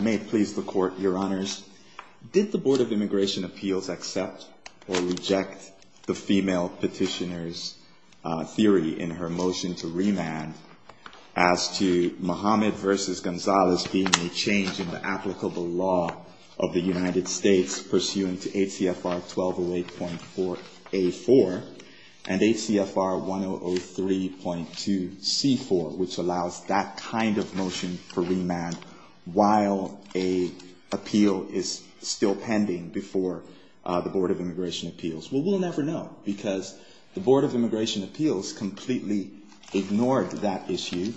May it please the court, your honors, did the Board of Immigration Appeals accept or reject the female petitioner's theory in her motion to remand as to Mohammed versus Gonzalez being a change in the applicable law of the United States pursuant to HCFR 1208.4A4 and HCFR 1003.2C4, which allows that kind of motion for remand while a appeal is still pending before the Board of Immigration Appeals? Well, we'll never know, because the Board of Immigration Appeals completely ignored that issue,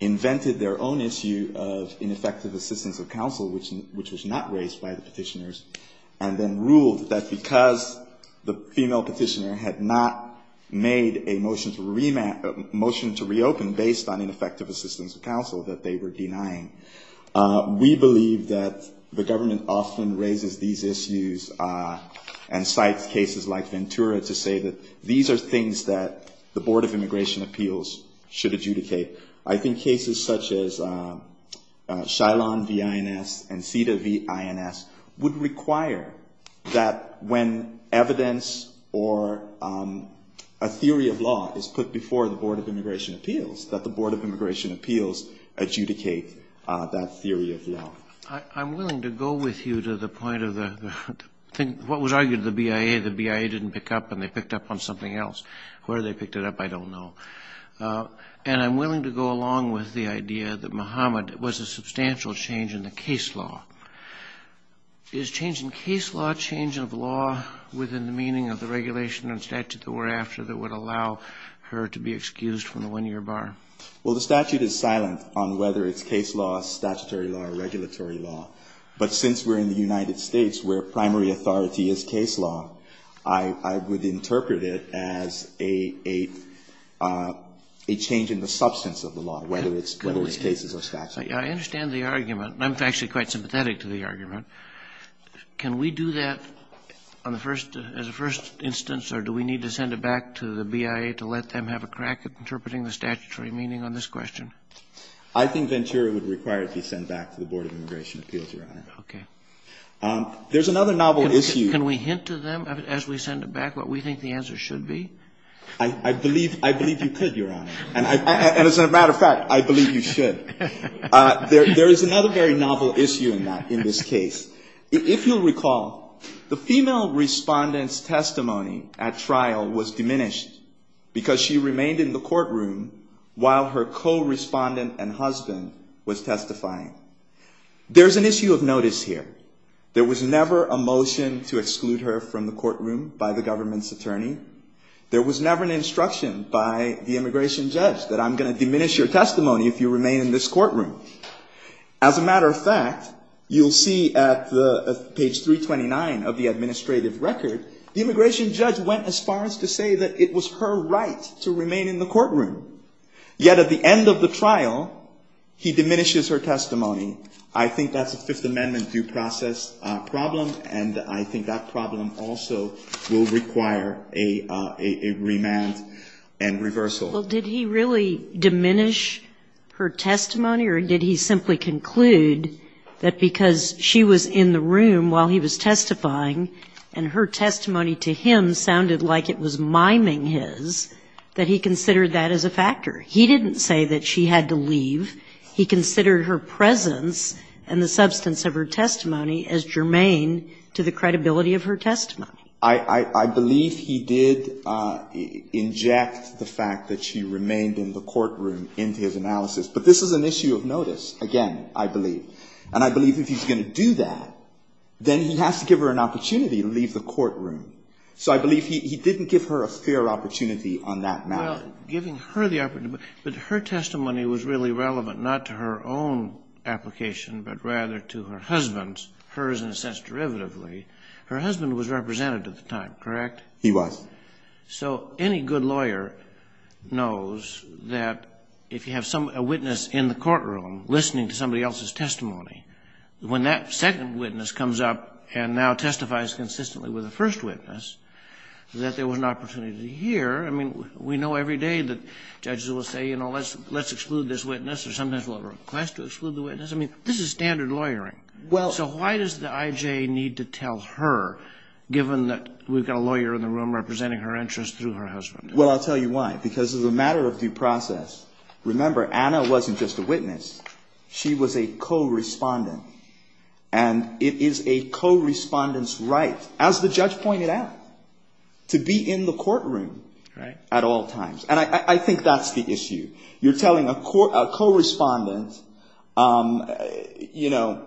invented their own issue of ineffective assistance of counsel, which was not raised by the petitioners, and then ruled that because the female petitioner had not made a motion to reopen based on ineffective assistance of counsel that they were denying. We believe that the government often raises these issues and cites cases like Ventura to say that these are things that the Board of Immigration Appeals should adjudicate. I think cases such as Shilon v. INS and Cita v. INS would require that when evidence or a theory of law is put before the Board of Immigration Appeals that the Board of Immigration Appeals adjudicate that theory of law. I'm willing to go with you to the point of what was argued to the BIA. The BIA didn't pick up, and they picked up on something else. Where they picked it up, I don't know. And I'm willing to go along with the idea that Muhammad was a substantial change in the case law. Is change in case law change of law within the meaning of the regulation and statute that we're after that would allow her to be excused from the one-year bar? Well, the statute is silent on whether it's case law, statutory law, or regulatory law. But since we're in the United States where primary authority is case law, I would interpret it as a change in the substance of the law, whether it's cases or statute. I understand the argument. I'm actually quite sympathetic to the argument. Can we do that as a first instance, or do we need to send it back to the BIA to let them have a crack at interpreting the statutory meaning on this question? I think Ventura would require it be sent back to the Board of Immigration Appeals, Your Honor. There's another novel issue. Can we hint to them as we send it back what we think the answer should be? I believe you could, Your Honor. And as a matter of fact, I believe you should. There is another very novel issue in that, in this case. If you'll recall, the female respondent's testimony at trial was diminished because she remained in the courtroom while her co-respondent and husband was testifying. There's an issue of notice here. There was never a motion to exclude her from the courtroom by the government's attorney. There was never an instruction by the immigration judge that I'm going to diminish your testimony if you remain in this courtroom. As a matter of fact, you'll see at page 329 of the administrative record, the immigration judge went as far as to say that it was her right to remain in the courtroom. Yet at the end of the trial, he diminishes her testimony. I think that's a Fifth Amendment due process problem, and I think that problem also will require a remand and reversal. Well, did he really diminish her testimony, or did he simply conclude that because she was in the room while he was testifying, and her testimony to him sounded like it was miming his, that he considered that as a factor? He didn't say that she had to leave. He considered her presence and the substance of her testimony as germane to the credibility of her testimony. I believe he did inject the fact that she remained in the courtroom into his analysis. But this is an issue of notice, again, I believe. And I believe if he's going to do that, then he has to give her an opportunity to leave the courtroom. So I believe he didn't give her a fair opportunity on that matter. Well, giving her the opportunity, but her testimony was really relevant, not to her own application, but rather to her husband's, hers in a sense derivatively. Her husband was represented at the time, correct? He was. So any good lawyer knows that if you have a witness in the courtroom listening to somebody else's testimony, when that second witness comes up and now testifies consistently with the first witness, that there was an opportunity to hear. I mean, we know every day that judges will say, you know, let's exclude this witness, or sometimes we'll request to exclude the witness. I mean, this is standard lawyering. So why does the IJ need to tell her, given that we've got a lawyer in the room representing her interest through her husband? Well, I'll tell you why. Because as a matter of due process, remember, Anna wasn't just a witness. She was a co-respondent. And it is a co-respondent's right, as the judge pointed out, to be in the courtroom at all times. And I think that's the issue. You're telling a co-respondent, you know,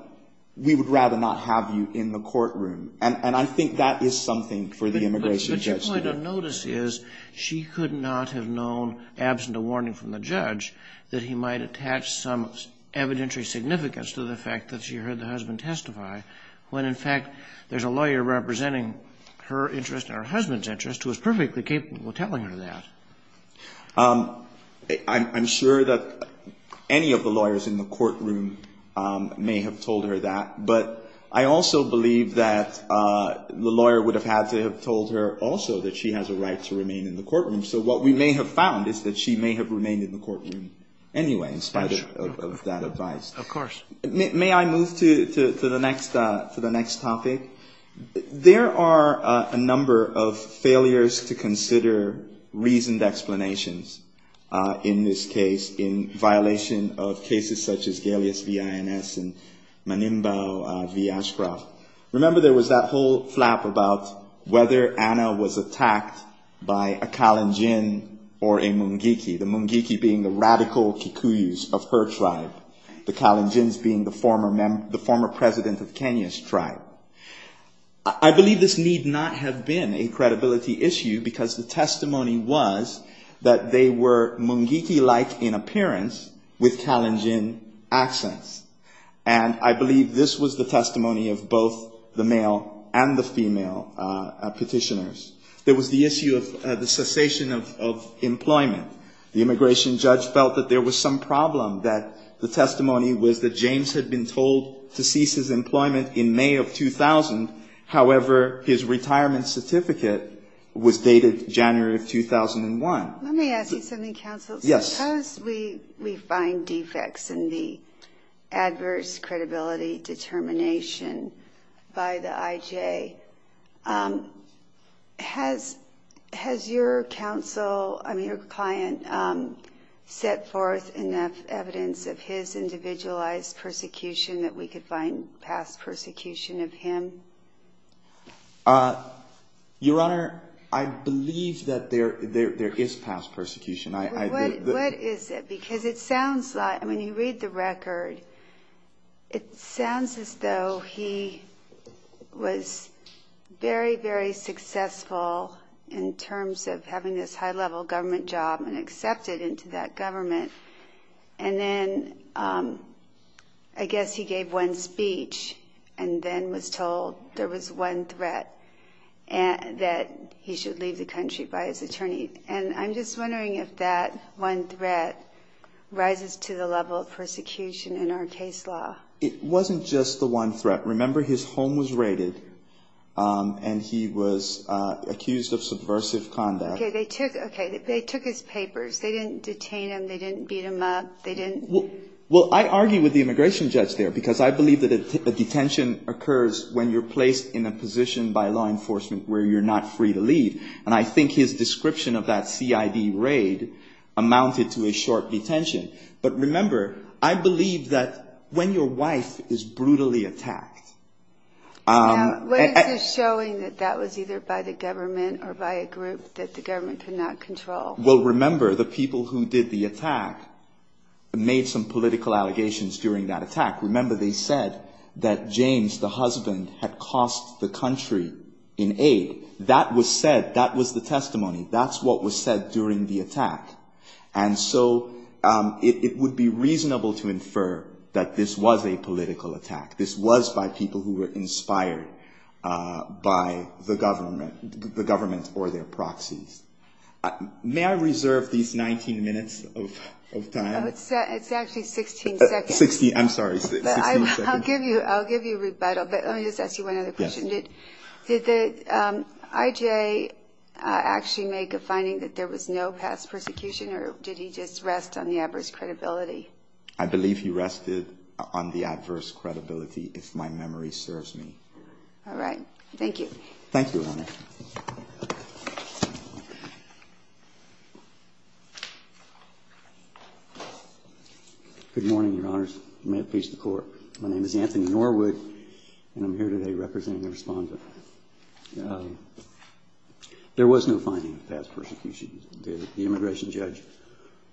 we would rather not have you in the courtroom. And I think that is something for the immigration judge to do. But your point of notice is, she could not have known, absent a warning from the judge, that he might attach some evidentiary significance to the fact that she heard the husband testify, when in fact, there's a lawyer representing her interest and her husband's interest who is perfectly capable of telling her that. I'm sure that any of the lawyers in the courtroom may have told her that. But I also believe that the lawyer would have had to have told her also that she has a right to remain in the courtroom. So what we may have found is that she may have remained in the courtroom anyway, in spite of that advice. Of course. May I move to the next topic? There are a number of failures to consider reasoned explanations in this case, in violation of cases such as Galeas v. INS and Manimbao v. Ashcroft. Remember, there was that whole flap about whether Anna was attacked by a Kalenjin or a Mungike, the Mungike being the radical Kikuyus of her tribe, the Kalenjins being the former president of Kenya's tribe. I believe this need not have been a credibility issue because the testimony was that they were Mungike-like in appearance with Kalenjin accents. And I believe this was the testimony of both the male and the female petitioners. There was the issue of the cessation of employment. The immigration judge felt that there was some problem, that the testimony was that James had been told to cease his employment in May of 2000. However, his retirement certificate was dated January of 2001. Let me ask you something, counsel. Yes. Because we find defects in the adverse credibility determination by the IJ, has your counsel, your client, set forth enough evidence of his individualized persecution that we could find past persecution of him? Your Honor, I believe that there is past persecution. What is it? Because it sounds like, when you read the record, it sounds as though he was very, very successful in terms of having this high-level government job and accepted into that government. And then I guess he gave one speech and then was told there was one threat, that he should leave the country by his attorney. And I'm just wondering if that one threat rises to the level of persecution in our case law. It wasn't just the one threat. Remember, his home was raided, and he was accused of subversive conduct. OK, they took his papers. They didn't detain him. They didn't beat him up. They didn't. Well, I argue with the immigration judge there, because I believe that a detention occurs when you're placed in a position by law enforcement where you're not free to leave. And I think his description of that CID raid amounted to a short detention. But remember, I believe that when your wife is brutally attacked. Now, what is this showing that that was either by the government or by a group that the government could not control? Well, remember, the people who did the attack made some political allegations during that attack. Remember, they said that James, the husband, had cost the country in aid. That was said. That was the testimony. That's what was said during the attack. And so it would be reasonable to infer that this was a political attack. This was by people who were inspired by the government or their proxies. May I reserve these 19 minutes of time? It's actually 16 seconds. I'm sorry, 16 seconds. I'll give you rebuttal. But let me just ask you one other question. Did the IJA actually make a finding that there was no past persecution, or did he just rest on the adverse credibility? I believe he rested on the adverse credibility if my memory serves me. All right. Thank you. Thank you, Your Honor. Good morning, Your Honors. May it please the Court. My name is Anthony Norwood, and I'm here today representing the respondent. There was no finding of past persecution. The immigration judge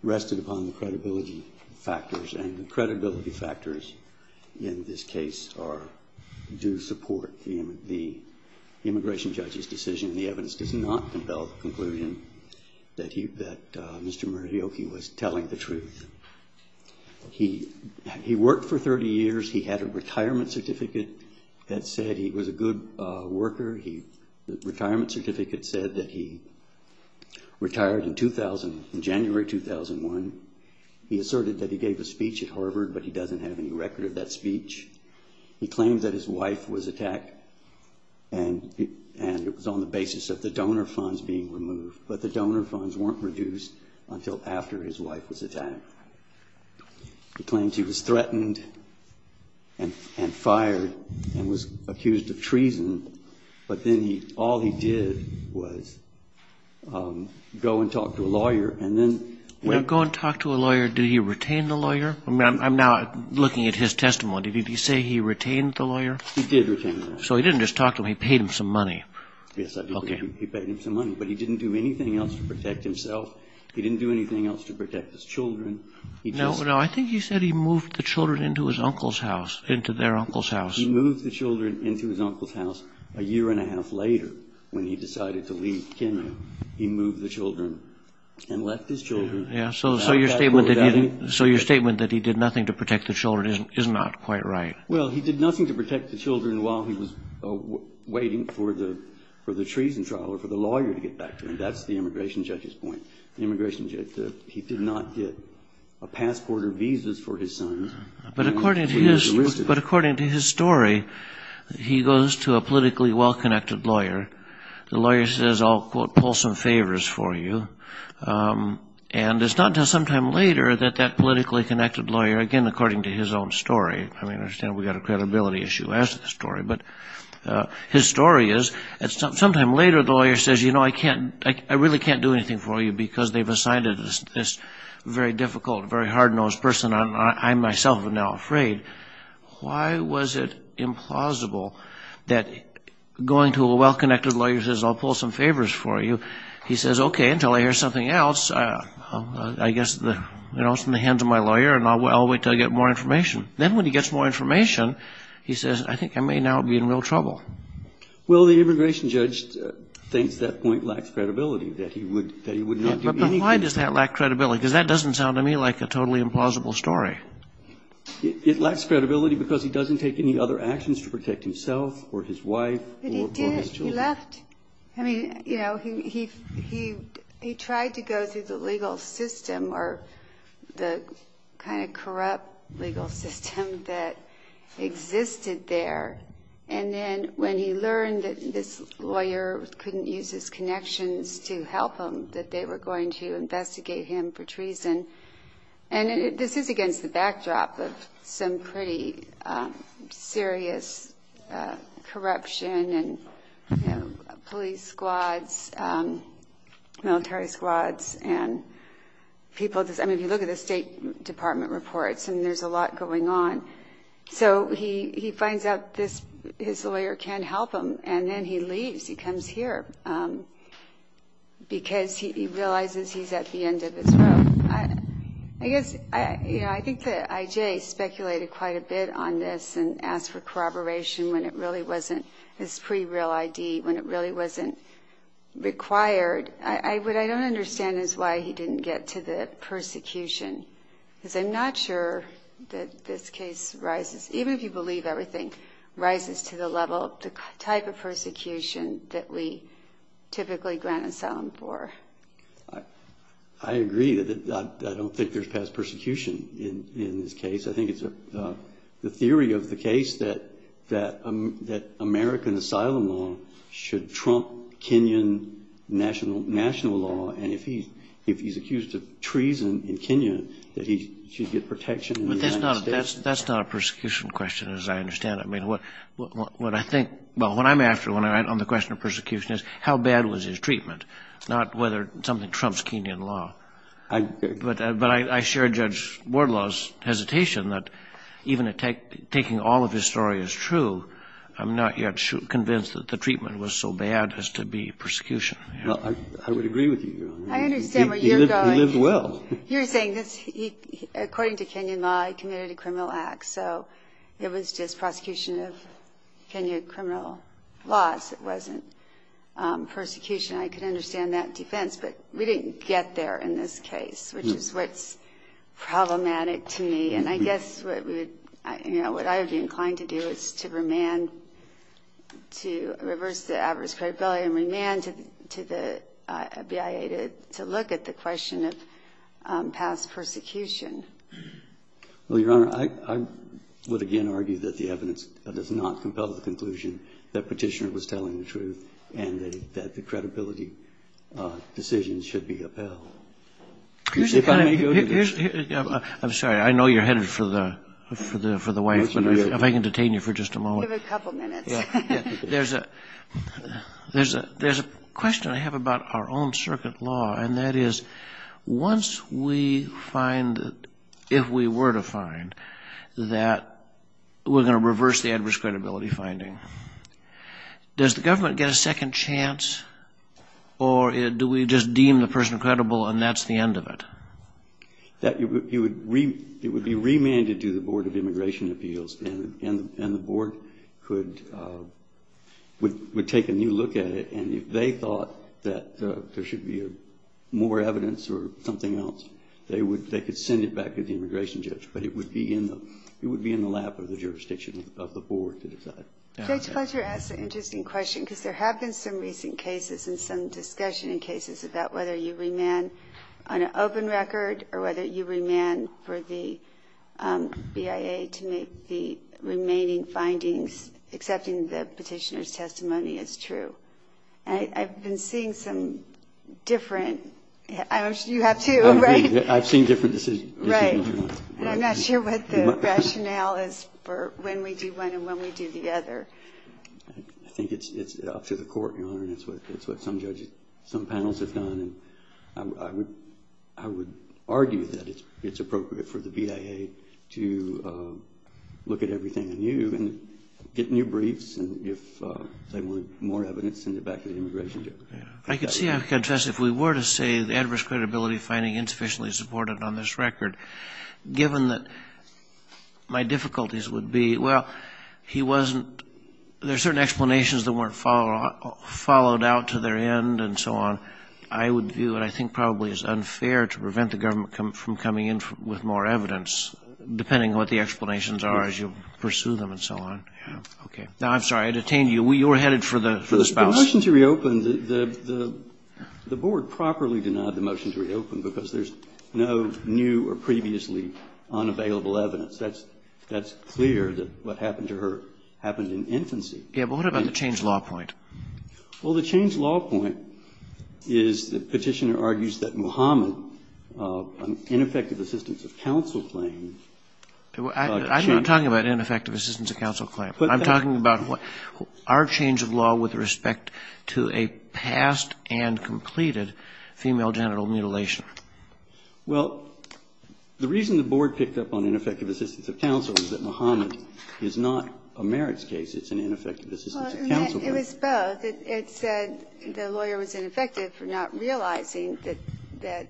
rested upon the credibility factors. And the credibility factors in this case do support the immigration judge's decision. The evidence does not compel the conclusion that Mr. Murayoki was telling the truth. He worked for 30 years. He had a retirement certificate that said he was a good worker. The retirement certificate said that he retired in January 2001. He asserted that he gave a speech at Harvard, but he doesn't have any record of that speech. He claimed that his wife was attacked, and it was on the basis of the donor funds being removed. But the donor funds weren't reduced until after his wife was attacked. He claimed he was threatened and fired and was accused of treason. But then all he did was go and talk to a lawyer. And then when he went and talked to a lawyer, did he retain the lawyer? I mean, I'm now looking at his testimony. Did he say he retained the lawyer? He did retain the lawyer. So he didn't just talk to him. He paid him some money. Yes, I believe he paid him some money. But he didn't do anything else to protect himself. He didn't do anything else to protect his children. No, I think he said he moved the children into his uncle's house, into their uncle's house. He moved the children into his uncle's house a year and a half later when he decided to leave Kennew. He moved the children and left his children. Yeah, so your statement that he did nothing to protect the children is not quite right. Well, he did nothing to protect the children while he was waiting for the treason trial or for the lawyer to get back to him. That's the immigration judge's point. The immigration judge said he did not get a passport or visas for his sons. But according to his story, he goes to a politically well-connected lawyer. The lawyer says, I'll quote, pull some favors for you. And it's not until sometime later that that politically connected lawyer, again, according to his own story, I mean, I understand we've got a credibility issue as to the story. But his story is, sometime later, the lawyer says, you know, I really can't do anything for you because they've assigned us this very difficult, very hard-nosed person, and I myself am now afraid. Why was it implausible that going to a well-connected lawyer says, I'll pull some favors for you? He says, OK, until I hear something else, I guess it's in the hands of my lawyer, and I'll wait till I get more information. Then when he gets more information, he says, I think I may now be in real trouble. Well, the immigration judge thinks that point lacks credibility, that he would not do anything for you. But why does that lack credibility? Because that doesn't sound to me like a totally implausible story. It lacks credibility because he doesn't take any other actions to protect himself, or his wife, or his children. But he did. He left. I mean, you know, he tried to go through the legal system, or the kind of corrupt legal system that existed there. And then when he learned that this lawyer couldn't use his connections to help him, that they were going to investigate him for treason. And this is against the backdrop of some pretty serious corruption, and police squads, military squads, and people. I mean, if you look at the State Department reports, and there's a lot going on. So he finds out his lawyer can't help him, and then he leaves. He comes here, because he realizes he's at the end of his rope. I guess, I think that IJ speculated quite a bit on this, and asked for corroboration when it really wasn't his pre-real ID, when it really wasn't required. What I don't understand is why he didn't get to the persecution. Because I'm not sure that this case rises, even if you believe everything, rises to the level, the type of persecution that we typically grant asylum for. I agree that I don't think there's past persecution in this case. I think it's the theory of the case that American asylum law should trump Kenyan national law. And if he's accused of treason in Kenya, that he should get protection in the United States. That's not a persecution question, as I understand it. I mean, what I think, well, what I'm after on the question of persecution is how bad was his treatment, not whether something trumps Kenyan law. But I share Judge Wardlaw's hesitation that even taking all of his story as true, I'm not yet convinced that the treatment was so bad as to be persecution. I would agree with you. I understand where you're going. He lived well. You're saying this, according to Kenyan law, he committed a criminal act. So it was just prosecution of Kenyan criminal laws. It wasn't persecution. I could understand that defense, but we didn't get there in this case, which is what's problematic to me. And I guess what I would be inclined to do is to remand, to reverse the adverse credibility and remand to the BIA to look at the question of past persecution. Well, Your Honor, I would again argue that the evidence does not compel the conclusion that Petitioner was telling the truth and that the credibility decisions should be upheld. If I may go to the next question. I'm sorry. I know you're headed for the wife, but if I can detain you for just a moment. Give it a couple minutes. There's a question I have about our own circuit law, and that is, if we were to find that we're going to reverse the adverse credibility finding, does the government get a second chance, or do we just deem the person credible and that's the end of it? It would be remanded to the Board of Immigration Appeals, and the board would take a new look at it. And if they thought that there should be more evidence or something else, they could send it back to the immigration judge. But it would be in the lap of the jurisdiction of the board to decide. Judge Fletcher asked an interesting question, because there have been some recent cases and some discussion in cases about whether you remand on an open record, or whether you remand for the BIA to make the remaining findings, accepting the petitioner's testimony is true. I've been seeing some different, you have too, right? I've seen different decisions. And I'm not sure what the rationale is for when we do one and when we do the other. I think it's up to the court, Your Honor, and it's what some judges, some panels have done. I would argue that it's appropriate for the BIA to look at everything anew. Get new briefs, and if they want more evidence, send it back to the immigration judge. I can see how you can test it. If we were to say the adverse credibility finding insufficiently supported on this record, given that my difficulties would be, well, he wasn't, there's certain explanations that weren't followed out to their end, and so on. I would view it, I think, probably as unfair to prevent the government from coming in with more evidence, depending on what the explanations are as you pursue them, and so on. OK, now, I'm sorry, I detained you. You were headed for the spouse. The motion to reopen, the board properly denied the motion to reopen because there's no new or previously unavailable evidence. That's clear that what happened to her happened in infancy. Yeah, but what about the change law point? Well, the change law point is the petitioner argues that Muhammad, an ineffective assistance of counsel claim. I'm not talking about ineffective assistance of counsel claim. I'm talking about our change of law with respect to a past and completed female genital mutilation. Well, the reason the board picked up on ineffective assistance of counsel is that Muhammad is not a merits case. It's an ineffective assistance of counsel. It was both. It said the lawyer was ineffective for not realizing that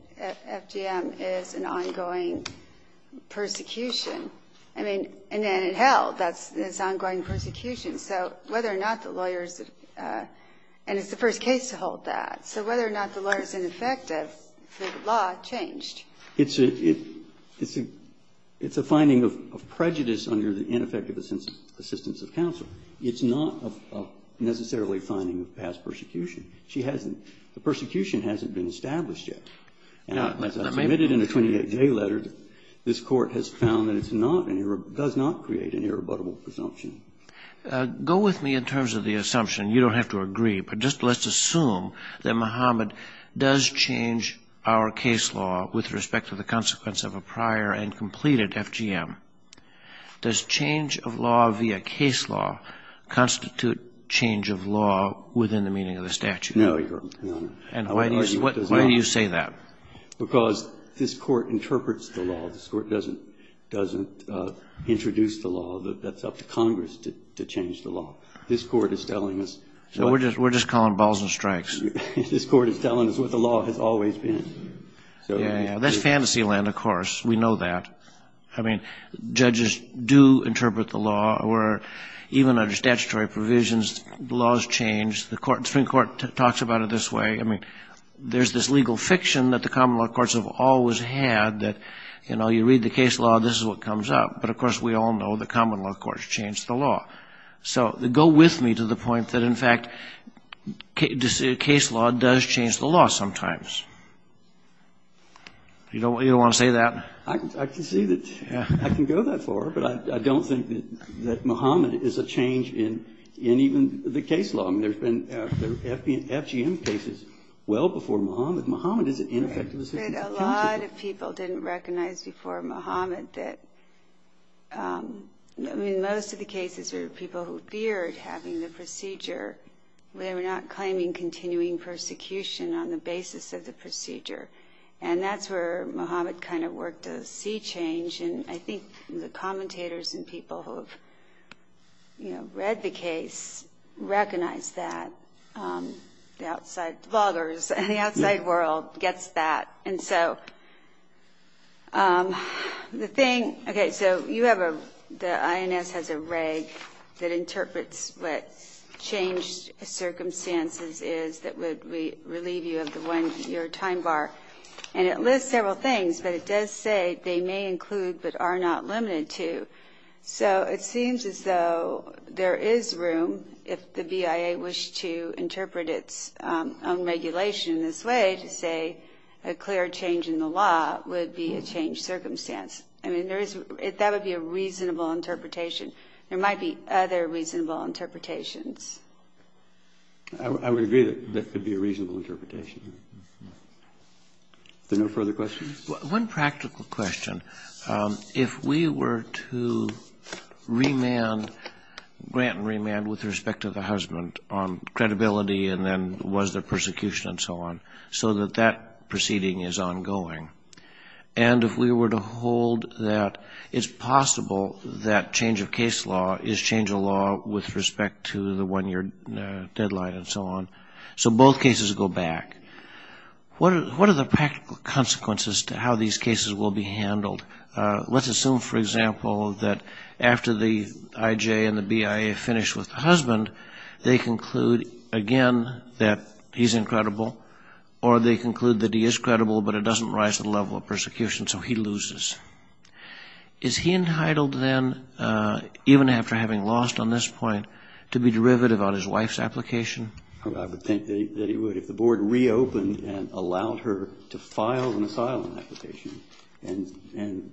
FDM is an ongoing persecution. I mean, and then in hell, that's this ongoing persecution. So whether or not the lawyers, and it's the first case to hold that. So whether or not the lawyer's ineffective, the law changed. It's a finding of prejudice under the ineffective assistance of counsel. It's not a necessarily finding of past persecution. She hasn't, the persecution hasn't been established yet. Now, as I submitted in a 28-J letter, this court has found that it does not create an irrebuttable presumption. Go with me in terms of the assumption. You don't have to agree. But just let's assume that Muhammad does change our case law with respect to the consequence of a prior and completed FDM. Does change of law via case law constitute change of law within the meaning of the statute? No, Your Honor. And why do you say that? Because this court interprets the law. This court doesn't introduce the law. That's up to Congress to change the law. This court is telling us. So we're just calling balls and strikes. This court is telling us what the law has always been. Yeah, that's fantasy land, of course. We know that. I mean, judges do interpret the law, or even under statutory provisions, the law has changed. The Supreme Court talks about it this way. I mean, there's this legal fiction that the common law courts have always had, that you read the case law, this is what comes up. But of course, we all know the common law courts change the law. So go with me to the point that, in fact, case law does change the law sometimes. You don't want to say that? I can see that. I can go that far. But I don't think that Muhammad is a change in even the case law. I mean, there's been FGM cases well before Muhammad. Muhammad is an ineffective assistant to counsel. But a lot of people didn't recognize before Muhammad that, I mean, most of the cases are people who feared having the procedure. They were not claiming continuing persecution on the basis of the procedure. And that's where Muhammad kind of worked to see change. I think the commentators and people who have read the case recognize that. The outside bloggers and the outside world gets that. And so the thing, OK, so you have a, the INS has a reg that interprets what changed circumstances is that would relieve you of the one-year time bar. And it lists several things. But it does say they may include but are not limited to. So it seems as though there is room if the BIA wished to interpret its own regulation in this way to say a clear change in the law would be a changed circumstance. I mean, there is, that would be a reasonable interpretation. There might be other reasonable interpretations. I would agree that that could be a reasonable interpretation. Is there no further questions? One practical question. If we were to remand, grant and remand with respect to the husband on credibility and then was there persecution and so on, so that that proceeding is ongoing, and if we were to hold that it's possible that change of case law is change of law with respect to the one-year deadline and so on, so both cases go back, what are the practical consequences to how these cases will be handled? Let's assume, for example, that after the IJ and the BIA finish with the husband, they conclude, again, that he's incredible. Or they conclude that he is credible, but it doesn't rise to the level of persecution, so he loses. Is he entitled then, even after having lost on this point, to be derivative on his wife's application? I would think that he would. If the board reopened and allowed her to file an asylum application and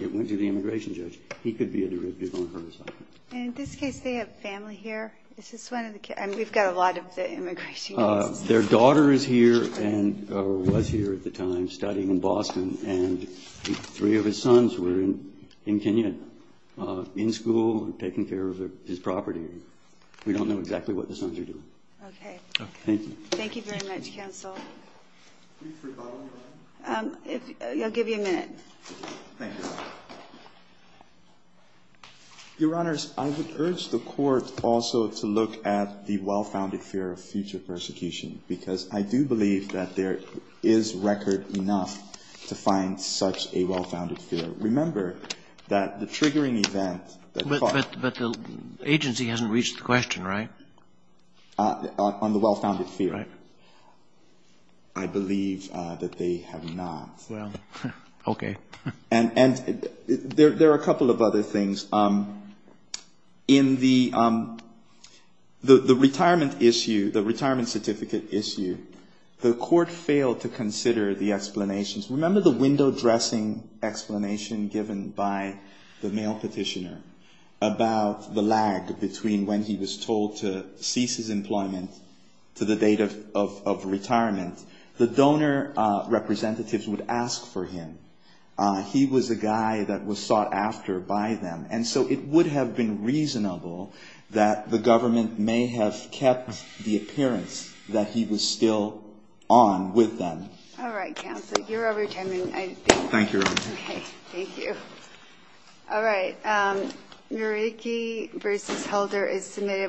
it went to the immigration judge, he could be a derivative on her asylum. And in this case, they have family here? Is this one of the kids? We've got a lot of the immigration judges. Their daughter is here and was here at the time, studying in Boston, and three of his sons were in Kenya in school and taking care of his property. We don't know exactly what the sons are doing. Thank you. Thank you very much, counsel. Brief rebuttal, if I may? I'll give you a minute. Your Honors, I would urge the court also to look at the well-founded fear of future persecution. Because I do believe that there is record enough to find such a well-founded fear. Remember that the triggering event that the farm But the agency hasn't reached the question, right? On the well-founded fear. Right. I believe that they have not. Well, OK. And there are a couple of other things. In the retirement issue, the retirement certificate issue, the court failed to consider the explanations. Remember the window dressing explanation given by the mail petitioner about the lag between when he was told to cease his employment to the date of retirement? The donor representatives would ask for him. He was a guy that was sought after by them. And so it would have been reasonable that the government may have kept the appearance that he was still on with them. All right, counsel. You're over your time. Thank you, Your Honor. Thank you. All right. Murieke versus Helder is submitted.